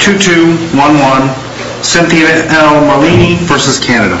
2-2-1-1 Cynthia L. Marlini v. Canada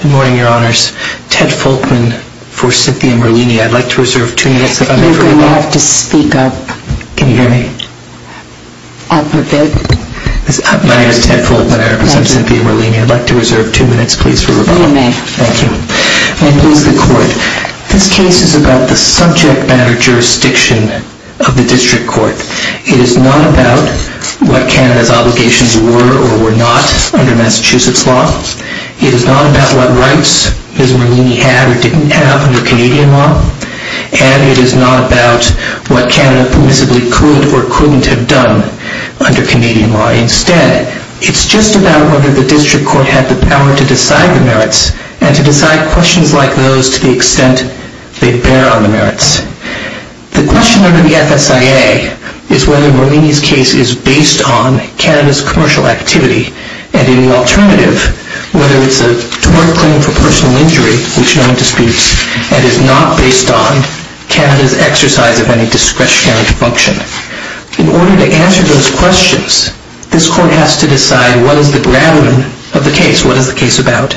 Good morning, Your Honours. Ted Folkman for Cynthia Marlini. I'd like to reserve two minutes for rebuttal. You're going to have to speak up. Can you hear me? Up a bit. My name is Ted Folkman. I represent Cynthia Marlini. I'd like to reserve two minutes, please, for rebuttal. You may. Thank you. May it please the Court, this case is about the subject matter jurisdiction of the District Court. It is not about what Canada's obligations were or were not under Massachusetts law. It is not about what rights Ms. Marlini had or didn't have under Canadian law. And it is not about what Canada permissibly could or couldn't have done under Canadian law. Instead, it's just about whether the District Court had the power to decide the merits and to decide questions like those to the extent they bear on the merits. The question under the FSIA is whether Marlini's case is based on Canada's commercial activity and, in the alternative, whether it's a tort claim for personal injury, which no one disputes, and is not based on Canada's exercise of any discretionary function. In order to answer those questions, this Court has to decide what is the ground of the case, what is the case about.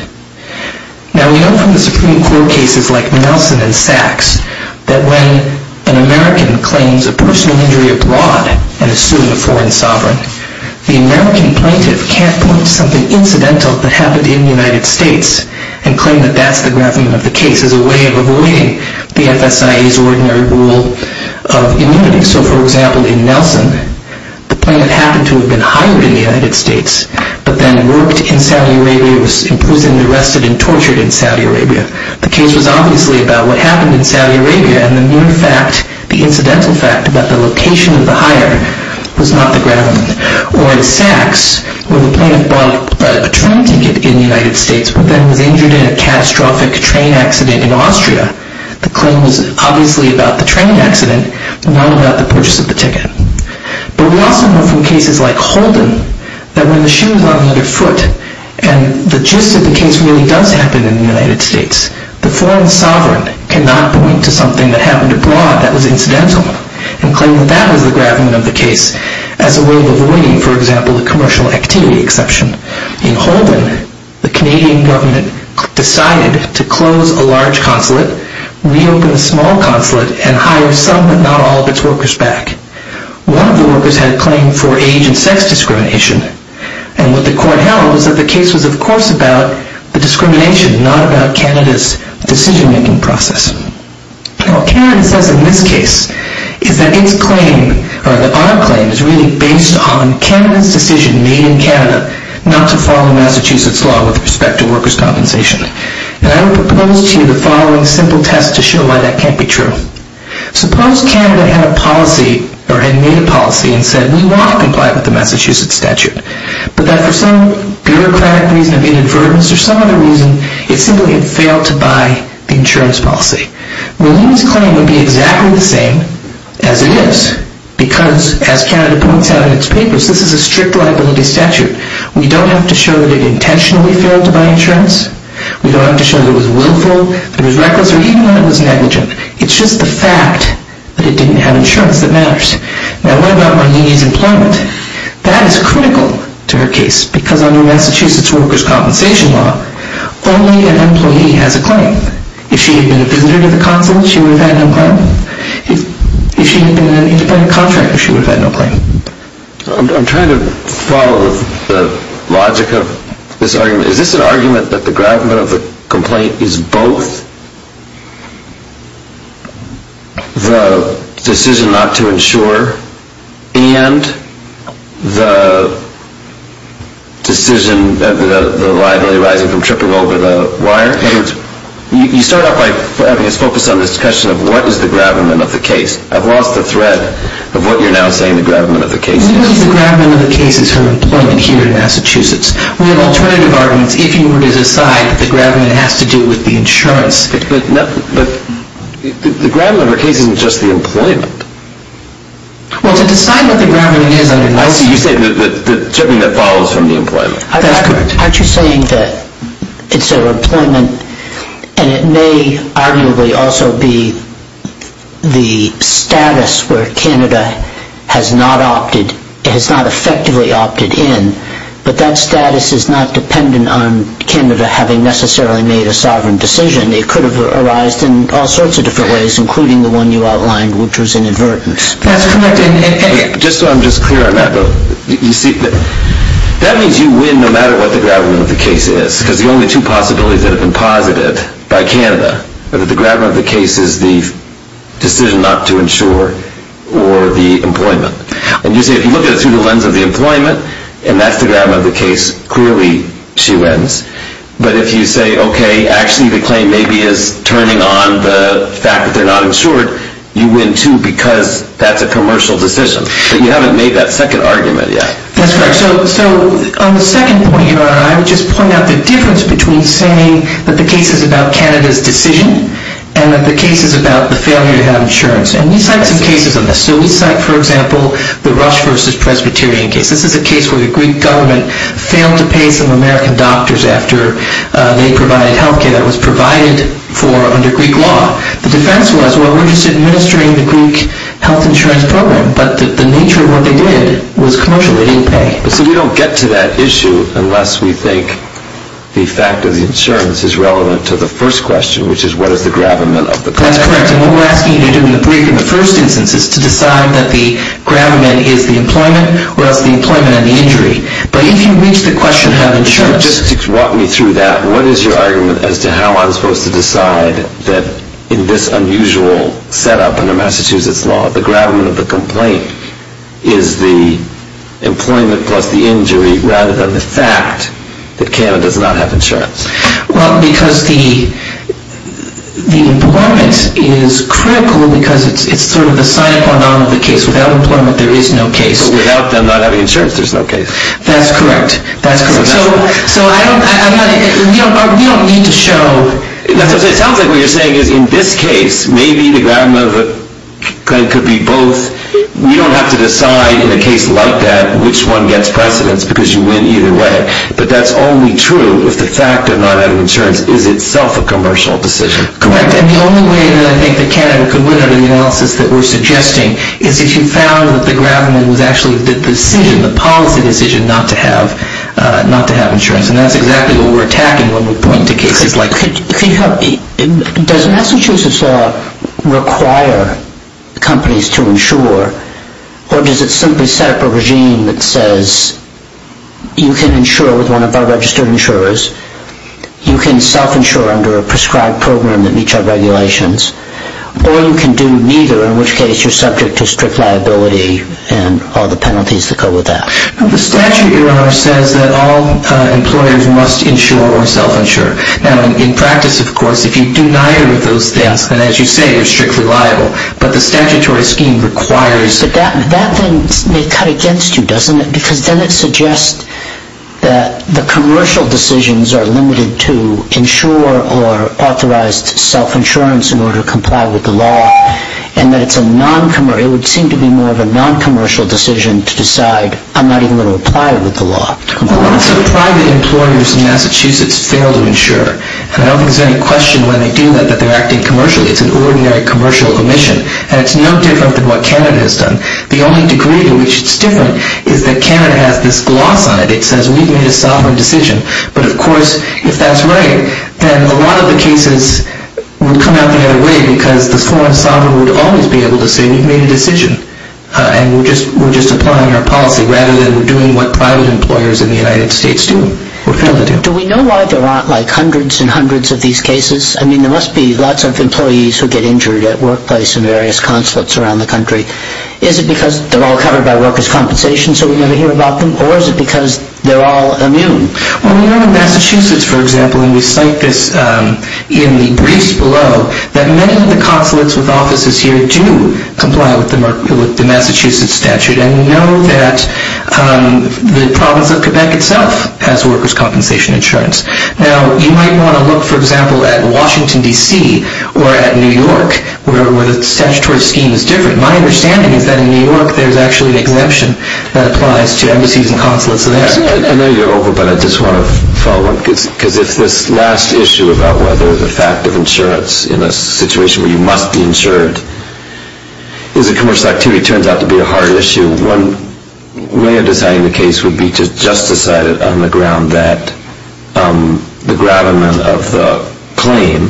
Now, we know from the Supreme Court cases like Nelson and Sachs that when an American claims a personal injury abroad and is sued by a foreign sovereign, the American plaintiff can't point to something incidental that happened in the United States and claim that that's the ground of the case as a way of avoiding the FSIA's ordinary rule of immunity. So, for example, in Nelson, the plaintiff happened to have been hired in the United States but then worked in Saudi Arabia, was imprisoned, arrested, and tortured in Saudi Arabia. The case was obviously about what happened in Saudi Arabia, and the mere fact, the incidental fact, about the location of the hire was not the ground. Or in Sachs, where the plaintiff bought a train ticket in the United States but then was injured in a catastrophic train accident in Austria. The claim was obviously about the train accident, not about the purchase of the ticket. But we also know from cases like Holden that when the shoe is on the other foot and the gist of the case really does happen in the United States, the foreign sovereign cannot point to something that happened abroad that was incidental and claim that that was the ground of the case as a way of avoiding, for example, the commercial activity exception. In Holden, the Canadian government decided to close a large consulate, reopen a small consulate, and hire some but not all of its workers back. One of the workers had a claim for age and sex discrimination, and what the court held was that the case was, of course, about the discrimination, not about Canada's decision-making process. What Canada says in this case is that its claim, or that our claim, is really based on Canada's decision made in Canada not to follow Massachusetts law with respect to workers' compensation. And I will propose to you the following simple test to show why that can't be true. Suppose Canada had made a policy and said we want to comply with the Massachusetts statute, but that for some bureaucratic reason of inadvertence or some other reason, it simply had failed to buy the insurance policy. Well, Holden's claim would be exactly the same as it is, because as Canada points out in its papers, this is a strict liability statute. We don't have to show that it intentionally failed to buy insurance. We don't have to show that it was willful, that it was reckless, or even that it was negligent. It's just the fact that it didn't have insurance that matters. Now, what about Mohini's employment? That is critical to her case, because under Massachusetts workers' compensation law, only an employee has a claim. If she had been a visitor to the consulate, she would have had no claim. If she had been in an independent contractor, she would have had no claim. I'm trying to follow the logic of this argument. The argument that the gravamen of the complaint is both the decision not to insure and the decision of the liability rising from tripping over the wire. You start off by having us focus on this question of what is the gravamen of the case. I've lost the thread of what you're now saying the gravamen of the case is. What is the gravamen of the case is her employment here in Massachusetts. We have alternative arguments if you were to decide that the gravamen has to do with the insurance. But the gravamen of her case isn't just the employment. Well, to decide what the gravamen is under Massachusetts... I see. You're saying the tripping that follows from the employment. Aren't you saying that it's her employment, and it may arguably also be the status where Canada has not effectively opted in, but that status is not dependent on Canada having necessarily made a sovereign decision. It could have arised in all sorts of different ways, including the one you outlined, which was inadvertence. That's correct. Just so I'm clear on that, that means you win no matter what the gravamen of the case is. Because the only two possibilities that have been posited by Canada are that the gravamen of the case is the decision not to insure or the employment. And you say if you look at it through the lens of the employment, and that's the gravamen of the case, clearly she wins. But if you say, okay, actually the claim maybe is turning on the fact that they're not insured, you win too because that's a commercial decision. But you haven't made that second argument yet. That's correct. So on the second point, I would just point out the difference between saying that the case is about Canada's decision and that the case is about the failure to have insurance. And we cite some cases on this. So we cite, for example, the Rush v. Presbyterian case. This is a case where the Greek government failed to pay some American doctors after they provided health care that was provided under Greek law. The defense was, well, we're just administering the Greek health insurance program. But the nature of what they did was commercial. They didn't pay. So we don't get to that issue unless we think the fact of the insurance is relevant to the first question, which is what is the gravamen of the complaint. That's correct. And what we're asking you to do in the first instance is to decide that the gravamen is the employment or else the employment and the injury. But if you reach the question of how the insurance is. Just walk me through that. What is your argument as to how I'm supposed to decide that in this unusual setup under Massachusetts law, the gravamen of the complaint is the employment plus the injury rather than the fact that Canada does not have insurance? Well, because the employment is critical because it's sort of the sign-up on the case. Without employment, there is no case. So without them not having insurance, there's no case. That's correct. That's correct. So I don't, we don't need to show. That's what I'm saying. It sounds like what you're saying is in this case, maybe the gravamen of the complaint could be both. You don't have to decide in a case like that which one gets precedence because you win either way. But that's only true if the fact of not having insurance is itself a commercial decision. Correct. And the only way that I think that Canada could win under the analysis that we're suggesting is if you found that the gravamen was actually the decision, the policy decision not to have insurance. And that's exactly what we're attacking when we point to cases like that. Does Massachusetts law require companies to insure, or does it simply set up a regime that says you can insure with one of our registered insurers, you can self-insure under a prescribed program that meets our regulations, or you can do neither, in which case you're subject to strict liability and all the penalties that go with that. The statute, Your Honor, says that all employers must insure or self-insure. Now, in practice, of course, if you do neither of those things, then as you say, you're strictly liable. But the statutory scheme requires... But that then may cut against you, doesn't it? Because then it suggests that the commercial decisions are limited to insure or authorized self-insurance in order to comply with the law, and that it's a non-commercial... It would seem to be more of a non-commercial decision to decide, I'm not even going to apply it with the law. So private employers in Massachusetts fail to insure. And I don't think there's any question when they do that that they're acting commercially. It's an ordinary commercial omission. And it's no different than what Canada has done. The only degree to which it's different is that Canada has this gloss on it. It says we've made a sovereign decision. But, of course, if that's right, then a lot of the cases will come out the other way because the foreign sovereign would always be able to say we've made a decision and we're just applying our policy, rather than we're doing what private employers in the United States do or fail to do. Do we know why there aren't, like, hundreds and hundreds of these cases? I mean, there must be lots of employees who get injured at workplace in various consulates around the country. Is it because they're all covered by workers' compensation so we never hear about them? Or is it because they're all immune? Well, we know in Massachusetts, for example, and we cite this in the briefs below, that many of the consulates with offices here do comply with the Massachusetts statute and know that the province of Quebec itself has workers' compensation insurance. Now, you might want to look, for example, at Washington, D.C., or at New York, where the statutory scheme is different. My understanding is that in New York there's actually an exemption that applies to embassies and consulates there. I know you're over, but I just want to follow up because it's this last issue about whether the fact of insurance in a situation where you must be insured is a commercial activity, turns out to be a hard issue. One way of deciding the case would be to just decide it on the ground that the gravamen of the claim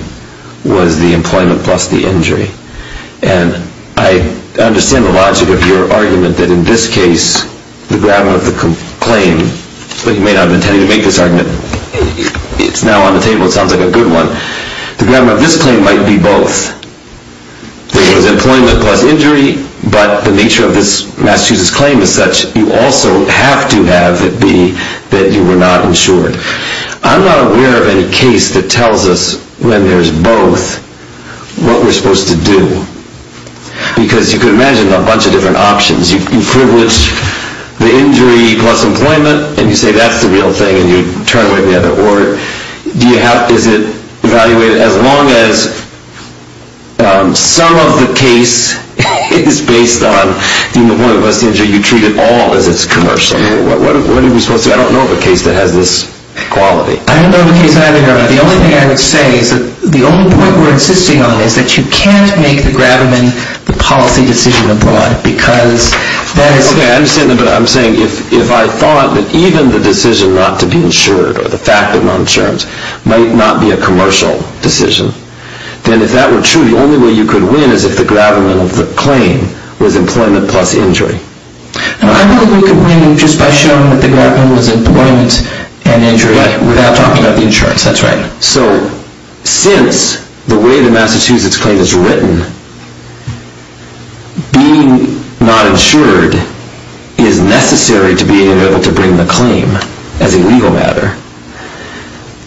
was the employment plus the injury. And I understand the logic of your argument that in this case the gravamen of the claim, but you may not have intended to make this argument. It's now on the table. It sounds like a good one. The gravamen of this claim might be both. There was employment plus injury, but the nature of this Massachusetts claim is such you also have to have it be that you were not insured. I'm not aware of any case that tells us when there's both what we're supposed to do because you could imagine a bunch of different options. You privilege the injury plus employment, and you say that's the real thing, and you turn away the other order. Is it evaluated as long as some of the case is based on the employment plus the injury, you treat it all as it's commercial? What are we supposed to do? I don't know of a case that has this quality. I don't know of a case either. The only thing I would say is that the only point we're insisting on is that you can't make the gravamen the policy decision abroad because that is... I'm saying if I thought that even the decision not to be insured or the fact that no insurance might not be a commercial decision, then if that were true, the only way you could win is if the gravamen of the claim was employment plus injury. I think we could win just by showing that the gravamen was employment and injury without talking about the insurance. That's right. So since the way the Massachusetts claim is written, being not insured is necessary to being able to bring the claim as a legal matter,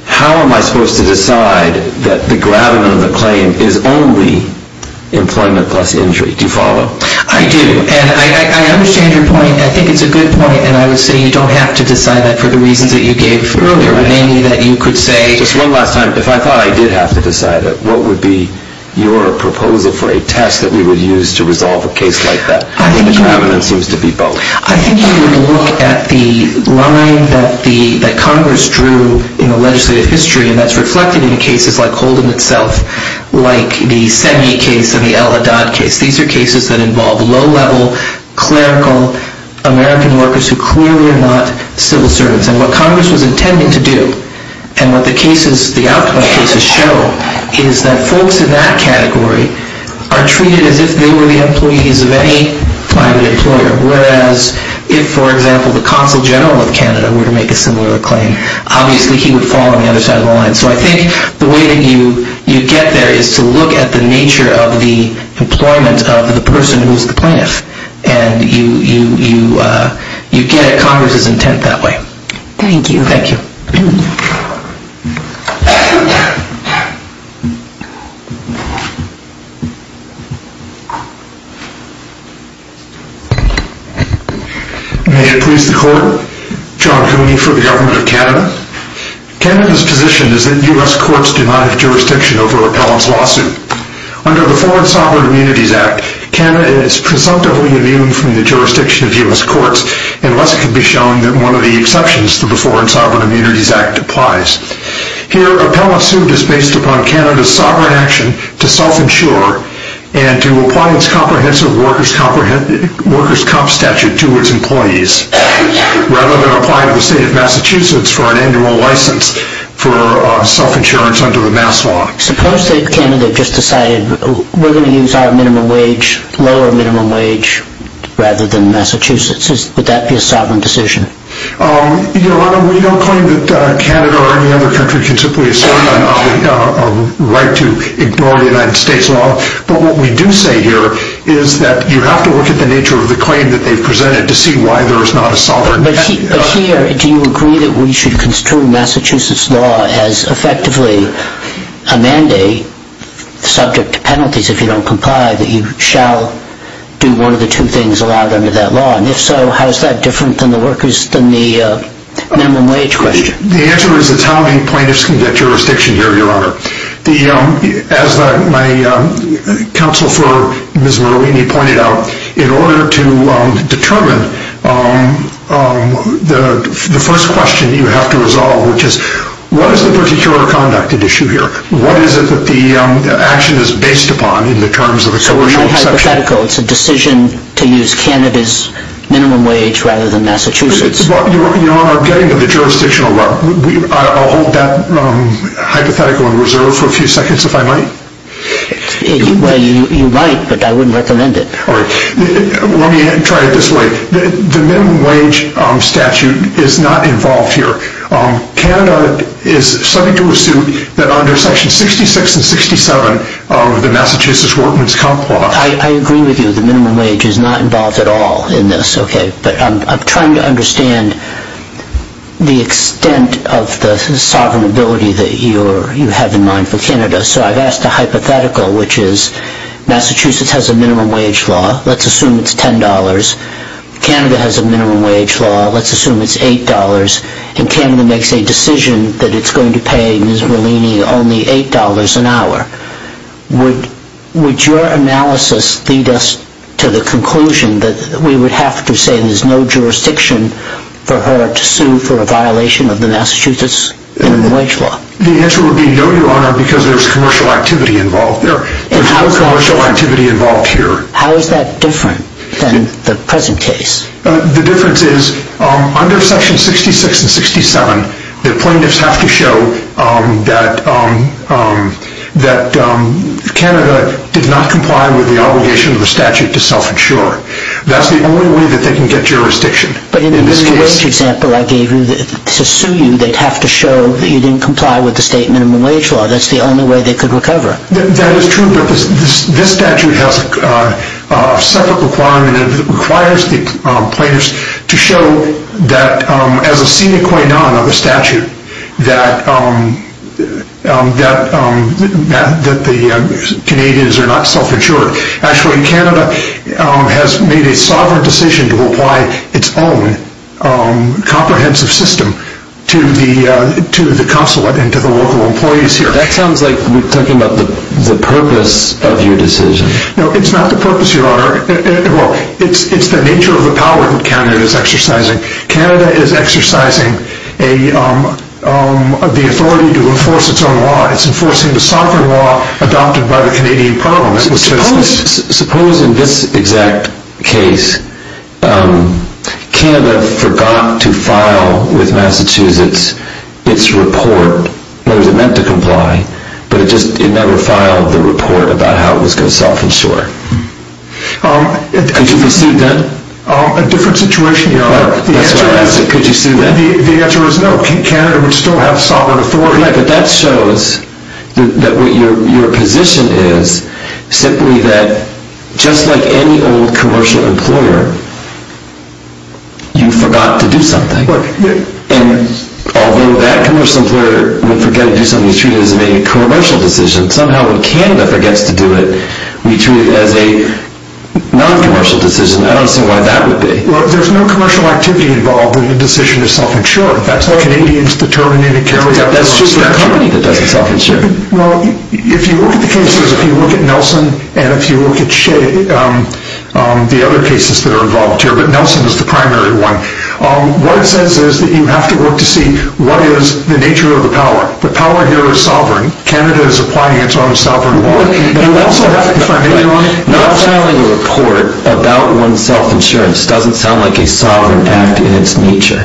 how am I supposed to decide that the gravamen of the claim is only employment plus injury? Do you follow? I do, and I understand your point. I think it's a good point, and I would say you don't have to decide that for the reasons that you gave earlier, namely that you could say... Just one last time, if I thought I did have to decide it, what would be your proposal for a test that we would use to resolve a case like that? I think you would look at the line that Congress drew in the legislative history, and that's reflected in cases like Holden itself, like the Semye case and the El Haddad case. These are cases that involve low-level, clerical American workers who clearly are not civil servants. And what Congress was intending to do, and what the cases, the outcome cases show, is that folks in that category are treated as if they were the employees of any private employer, whereas if, for example, the Consul General of Canada were to make a similar claim, obviously he would fall on the other side of the line. So I think the way that you get there is to look at the nature of the employment of the person who is the plaintiff. And you get at Congress's intent that way. Thank you. Thank you. May it please the Court, John Cooney for the Government of Canada. Canada's position is that U.S. courts do not have jurisdiction over Donald's lawsuit. Under the Foreign Sovereign Immunities Act, Canada is presumptively immune from the jurisdiction of U.S. courts unless it can be shown that one of the exceptions to the Foreign Sovereign Immunities Act applies. Here, Appellant's suit is based upon Canada's sovereign action to self-insure and to apply its comprehensive workers' comp statute to its employees, rather than apply to the State of Massachusetts for an annual license for self-insurance under the MAS law. Suppose that Canada just decided we're going to use our minimum wage, lower minimum wage, rather than Massachusetts. Would that be a sovereign decision? Your Honor, we don't claim that Canada or any other country can simply assume a right to ignore the United States law. But what we do say here is that you have to look at the nature of the claim that they've presented to see why there is not a sovereign... But here, do you agree that we should construe Massachusetts law as effectively a mandate, subject to penalties if you don't comply, that you shall do one of the two things allowed under that law? And if so, how is that different than the minimum wage question? The answer is it's how many plaintiffs can get jurisdiction here, Your Honor. As my counsel for Ms. Marlini pointed out, in order to determine the first question you have to resolve, which is what is the particular conduct at issue here? What is it that the action is based upon in the terms of the coercion exception? So in my hypothetical, it's a decision to use Canada's minimum wage rather than Massachusetts? Your Honor, I'm getting to the jurisdictional level. I'll hold that hypothetical in reserve for a few seconds, if I might. Well, you might, but I wouldn't recommend it. Let me try it this way. The minimum wage statute is not involved here. Canada is subject to a suit that under sections 66 and 67 of the Massachusetts Workman's Compact... I agree with you. The minimum wage is not involved at all in this. But I'm trying to understand the extent of the sovereign ability that you have in mind for Canada. So I've asked a hypothetical, which is Massachusetts has a minimum wage law. Let's assume it's $10. Canada has a minimum wage law. Let's assume it's $8. And Canada makes a decision that it's going to pay Ms. Marlini only $8 an hour. Would your analysis lead us to the conclusion that we would have to say there's no jurisdiction for her to sue for a violation of the Massachusetts minimum wage law? The answer would be no, Your Honor, because there's commercial activity involved. There's no commercial activity involved here. How is that different than the present case? The difference is under sections 66 and 67, the plaintiffs have to show that Canada did not comply with the obligation of the statute to self-insure. That's the only way that they can get jurisdiction. But in the minimum wage example I gave you, to sue you, they'd have to show that you didn't comply with the state minimum wage law. That's the only way they could recover. That is true, but this statute has a separate requirement. It requires the plaintiffs to show that as a sine qua non of the statute that the Canadians are not self-insured. Actually, Canada has made a sovereign decision to apply its own comprehensive system to the consulate and to the local employees here. That sounds like we're talking about the purpose of your decision. No, it's not the purpose, Your Honor. It's the nature of the power that Canada is exercising. Canada is exercising the authority to enforce its own law. It's enforcing the sovereign law adopted by the Canadian Parliament. Suppose in this exact case, Canada forgot to file with Massachusetts its report. It was meant to comply, but it never filed the report about how it was going to self-insure. Could you be sued then? A different situation, Your Honor. Could you be sued then? The answer is no. Canada would still have sovereign authority. Right, but that shows that what your position is simply that just like any old commercial employer, you forgot to do something. And although that commercial employer would forget to do something, it's treated as a commercial decision. Somehow when Canada forgets to do it, we treat it as a non-commercial decision. I don't see why that would be. Well, there's no commercial activity involved in the decision to self-insure. That's just the company that doesn't self-insure. Well, if you look at the cases, if you look at Nelson and if you look at the other cases that are involved here, but Nelson is the primary one. What it says is that you have to work to see what is the nature of the power. The power here is sovereign. Canada is applying its own sovereign law. You also have to be familiar with... Not filing a report about one's self-insurance doesn't sound like a sovereign act in its nature.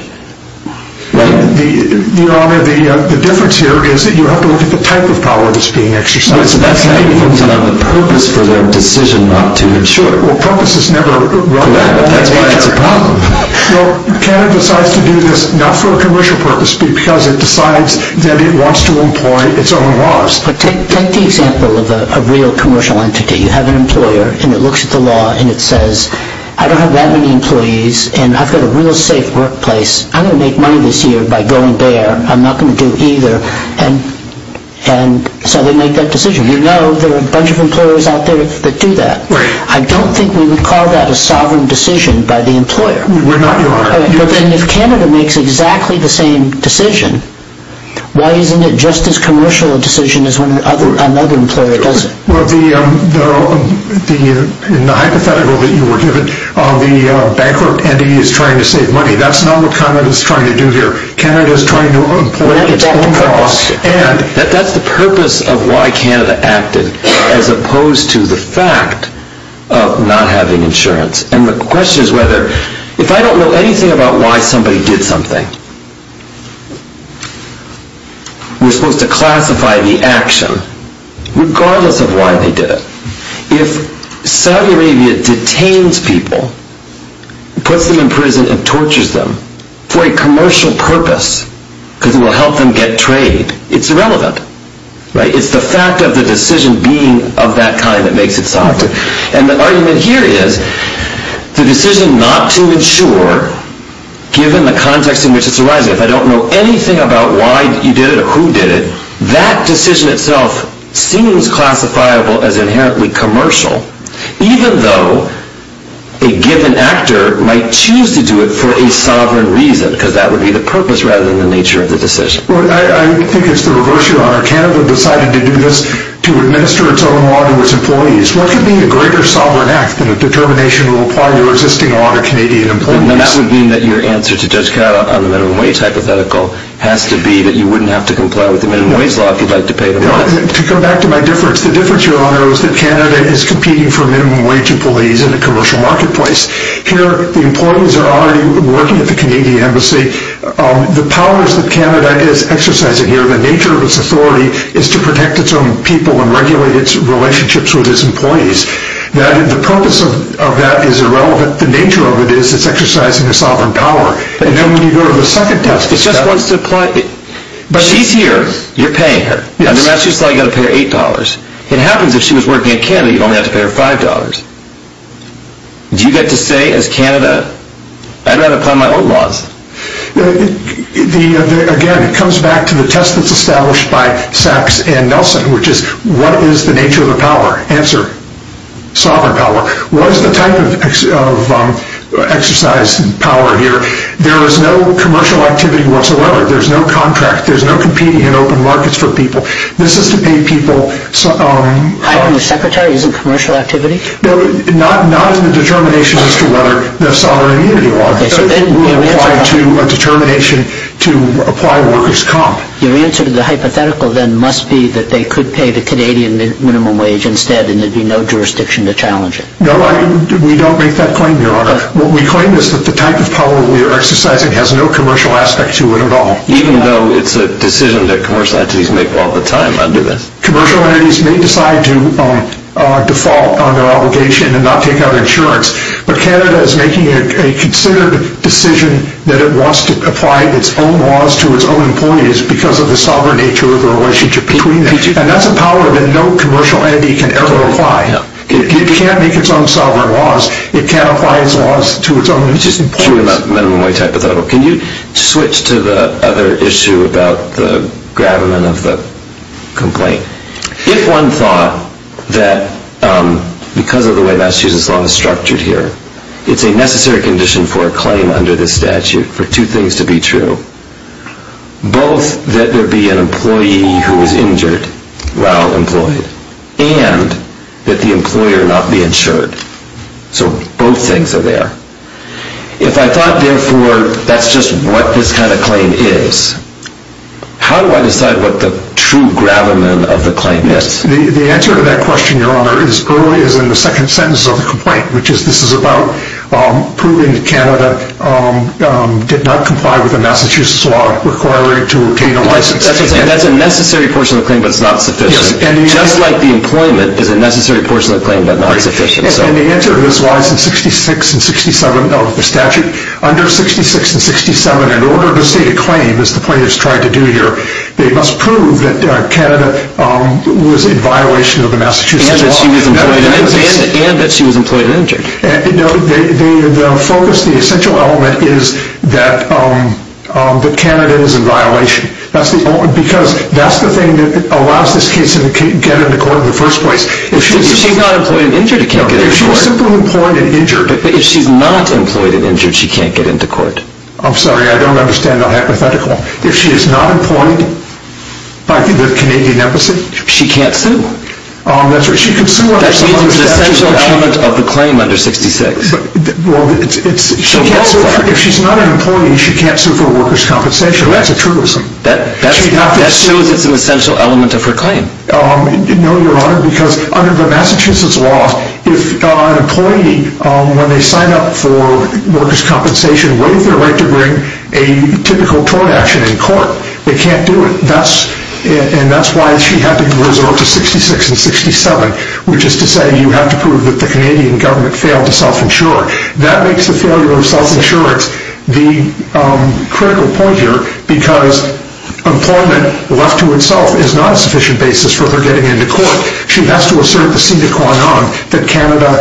Your Honor, the difference here is that you have to look at the type of power that's being exercised. But that's not even on the purpose for their decision not to insure. Well, purpose is never... Correct. That's why it's a problem. No, Canada decides to do this not for a commercial purpose because it decides that it wants to employ its own laws. But take the example of a real commercial entity. You have an employer and it looks at the law and it says, I don't have that many employees and I've got a real safe workplace. I'm going to make money this year by going there. I'm not going to do either. And so they make that decision. You know there are a bunch of employers out there that do that. Right. I don't think we would call that a sovereign decision by the employer. We're not, Your Honor. And if Canada makes exactly the same decision, why isn't it just as commercial a decision as when another employer does it? Well, in the hypothetical that you were given, the bankrupt entity is trying to save money. That's not what Canada is trying to do here. Canada is trying to employ its own laws and... That's the purpose of why Canada acted as opposed to the fact of not having insurance. And the question is whether... If I don't know anything about why somebody did something, we're supposed to classify the action regardless of why they did it. If Saudi Arabia detains people, puts them in prison and tortures them for a commercial purpose because it will help them get trade, it's irrelevant. It's the fact of the decision being of that kind that makes it so. And the argument here is the decision not to insure, given the context in which it's arising, if I don't know anything about why you did it or who did it, that decision itself seems classifiable as inherently commercial, even though a given actor might choose to do it for a sovereign reason, because that would be the purpose rather than the nature of the decision. I think it's the reverse, Your Honor. Canada decided to do this to administer its own law to its employees. What could be a greater sovereign act than a determination that will apply to a lot of existing Canadian employees? And that would mean that your answer to Judge Carr on the minimum wage hypothetical has to be that you wouldn't have to comply with the minimum wage law if you'd like to pay the money. To come back to my difference, the difference, Your Honor, is that Canada is competing for minimum wage employees in a commercial marketplace. Here, the employees are already working at the Canadian embassy. The powers that Canada is exercising here, the nature of its authority, is to protect its own people and regulate its relationships with its employees. The purpose of that is irrelevant. The nature of it is that it's exercising a sovereign power. And then when you go to the second test... It just wants to apply... She's here. You're paying her. Yes. And then that's just like you've got to pay her $8. It happens if she was working in Canada, you'd only have to pay her $5. Do you get to say, as Canada, I'd rather apply my own laws? Again, it comes back to the test that's established by Sachs and Nelson, which is what is the nature of the power? Answer, sovereign power. What is the type of exercise in power here? There is no commercial activity whatsoever. There's no contract. There's no competing in open markets for people. This is to pay people... Hiring a secretary isn't commercial activity? Not in the determination as to whether there's sovereign immunity or not. It will apply to a determination to apply workers' comp. Your answer to the hypothetical then must be that they could pay the Canadian minimum wage instead and there'd be no jurisdiction to challenge it. No, we don't make that claim, Your Honor. What we claim is that the type of power we are exercising has no commercial aspect to it at all. Even though it's a decision that commercial entities make all the time under this? Commercial entities may decide to default on their obligation and not take out insurance, but Canada is making a considered decision that it wants to apply its own laws to its own employees because of the sovereign nature of the relationship between them. And that's a power that no commercial entity can ever apply. It can't make its own sovereign laws. It can't apply its own laws to its own employees. Can you switch to the other issue about the gravamen of the complaint? If one thought that because of the way Massachusetts law is structured here, it's a necessary condition for a claim under this statute for two things to be true. Both that there be an employee who is injured while employed and that the employer not be insured. So both things are there. If I thought, therefore, that's just what this kind of claim is, how do I decide what the true gravamen of the claim is? The answer to that question, Your Honor, is early as in the second sentence of the complaint, which is this is about proving that Canada did not comply with the Massachusetts law requiring to obtain a license. And that's a necessary portion of the claim, but it's not sufficient. Just like the employment is a necessary portion of the claim, but not sufficient. And the answer to this lies in 66 and 67 of the statute. Under 66 and 67, in order to state a claim, as the plaintiffs tried to do here, they must prove that Canada was in violation of the Massachusetts law. And that she was employed and injured. No, the focus, the essential element is that Canada is in violation. Because that's the thing that allows this case to get into court in the first place. If she's not employed and injured, it can't get into court. No, if she was simply employed and injured. But if she's not employed and injured, she can't get into court. I'm sorry, I don't understand the hypothetical. If she is not employed by the Canadian embassy? She can't sue. That's right, she can sue under 66. That means it's an essential element of the claim under 66. Well, if she's not an employee, she can't sue for a worker's compensation. That's a truism. That shows it's an essential element of her claim. No, Your Honor, because under the Massachusetts law, if an employee, when they sign up for worker's compensation, what is their right to bring a typical tort action in court? They can't do it. And that's why she had to resort to 66 and 67, which is to say you have to prove that the Canadian government failed to self-insure. That makes the failure of self-insurance the critical point here, because employment, left to itself, is not a sufficient basis for her getting into court. She has to assert the seat at Guantanamo that Canada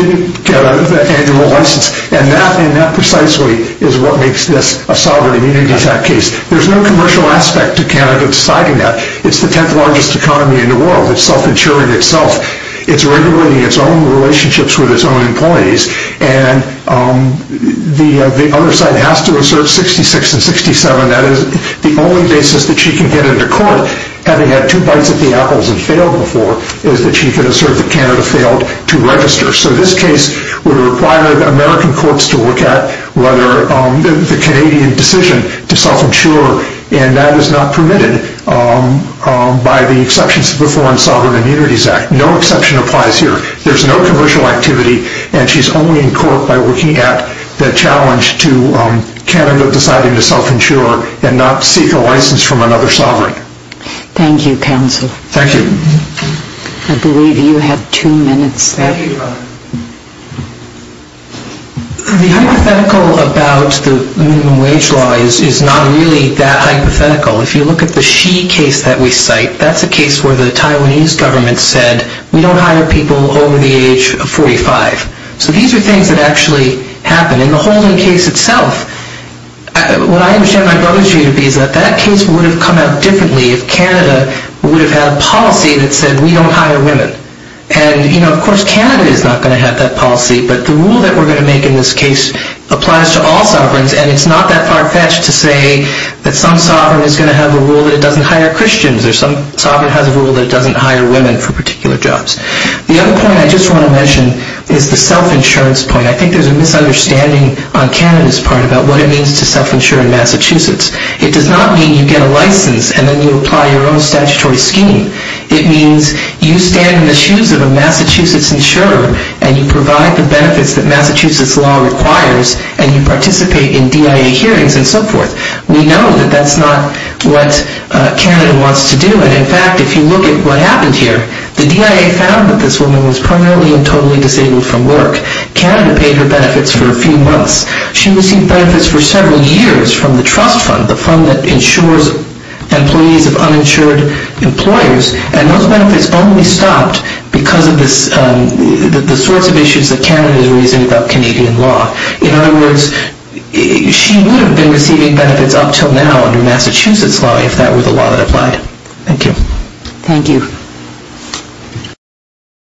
didn't get an annual license. And that precisely is what makes this a sovereign immunity case. There's no commercial aspect to Canada deciding that. It's the 10th largest economy in the world. It's self-insuring itself. It's regulating its own relationships with its own employees. And the other side has to assert 66 and 67. That is the only basis that she can get into court, having had two bites at the apples and failed before, is that she can assert that Canada failed to register. So this case would require the American courts to look at whether the Canadian decision to self-insure, and that is not permitted by the exceptions to the Foreign Sovereign Immunities Act. No exception applies here. There's no commercial activity, and she's only in court by looking at the challenge to Canada deciding to self-insure and not seek a license from another sovereign. Thank you, counsel. Thank you. I believe you have two minutes left. Thank you. The hypothetical about the minimum wage law is not really that hypothetical. If you look at the Xi case that we cite, that's a case where the Taiwanese government said, we don't hire people over the age of 45. So these are things that actually happen. In the holding case itself, what I understand my brother's view to be is that that case would have come out differently if Canada would have had a policy that said, we don't hire women. And, you know, of course Canada is not going to have that policy, but the rule that we're going to make in this case applies to all sovereigns, and it's not that far-fetched to say that some sovereign is going to have a rule that it doesn't hire Christians or some sovereign has a rule that it doesn't hire women for particular jobs. The other point I just want to mention is the self-insurance point. I think there's a misunderstanding on Canada's part about what it means to self-insure in Massachusetts. It does not mean you get a license and then you apply your own statutory scheme. It means you stand in the shoes of a Massachusetts insurer and you provide the benefits that Massachusetts law requires and you participate in DIA hearings and so forth. We know that that's not what Canada wants to do, and in fact if you look at what happened here, the DIA found that this woman was primarily and totally disabled from work. Canada paid her benefits for a few months. She received benefits for several years from the trust fund, the fund that insures employees of uninsured employers, and those benefits only stopped because of the sorts of issues that Canada is raising about Canadian law. In other words, she would have been receiving benefits up until now under Massachusetts law if that were the law that applied. Thank you. Thank you.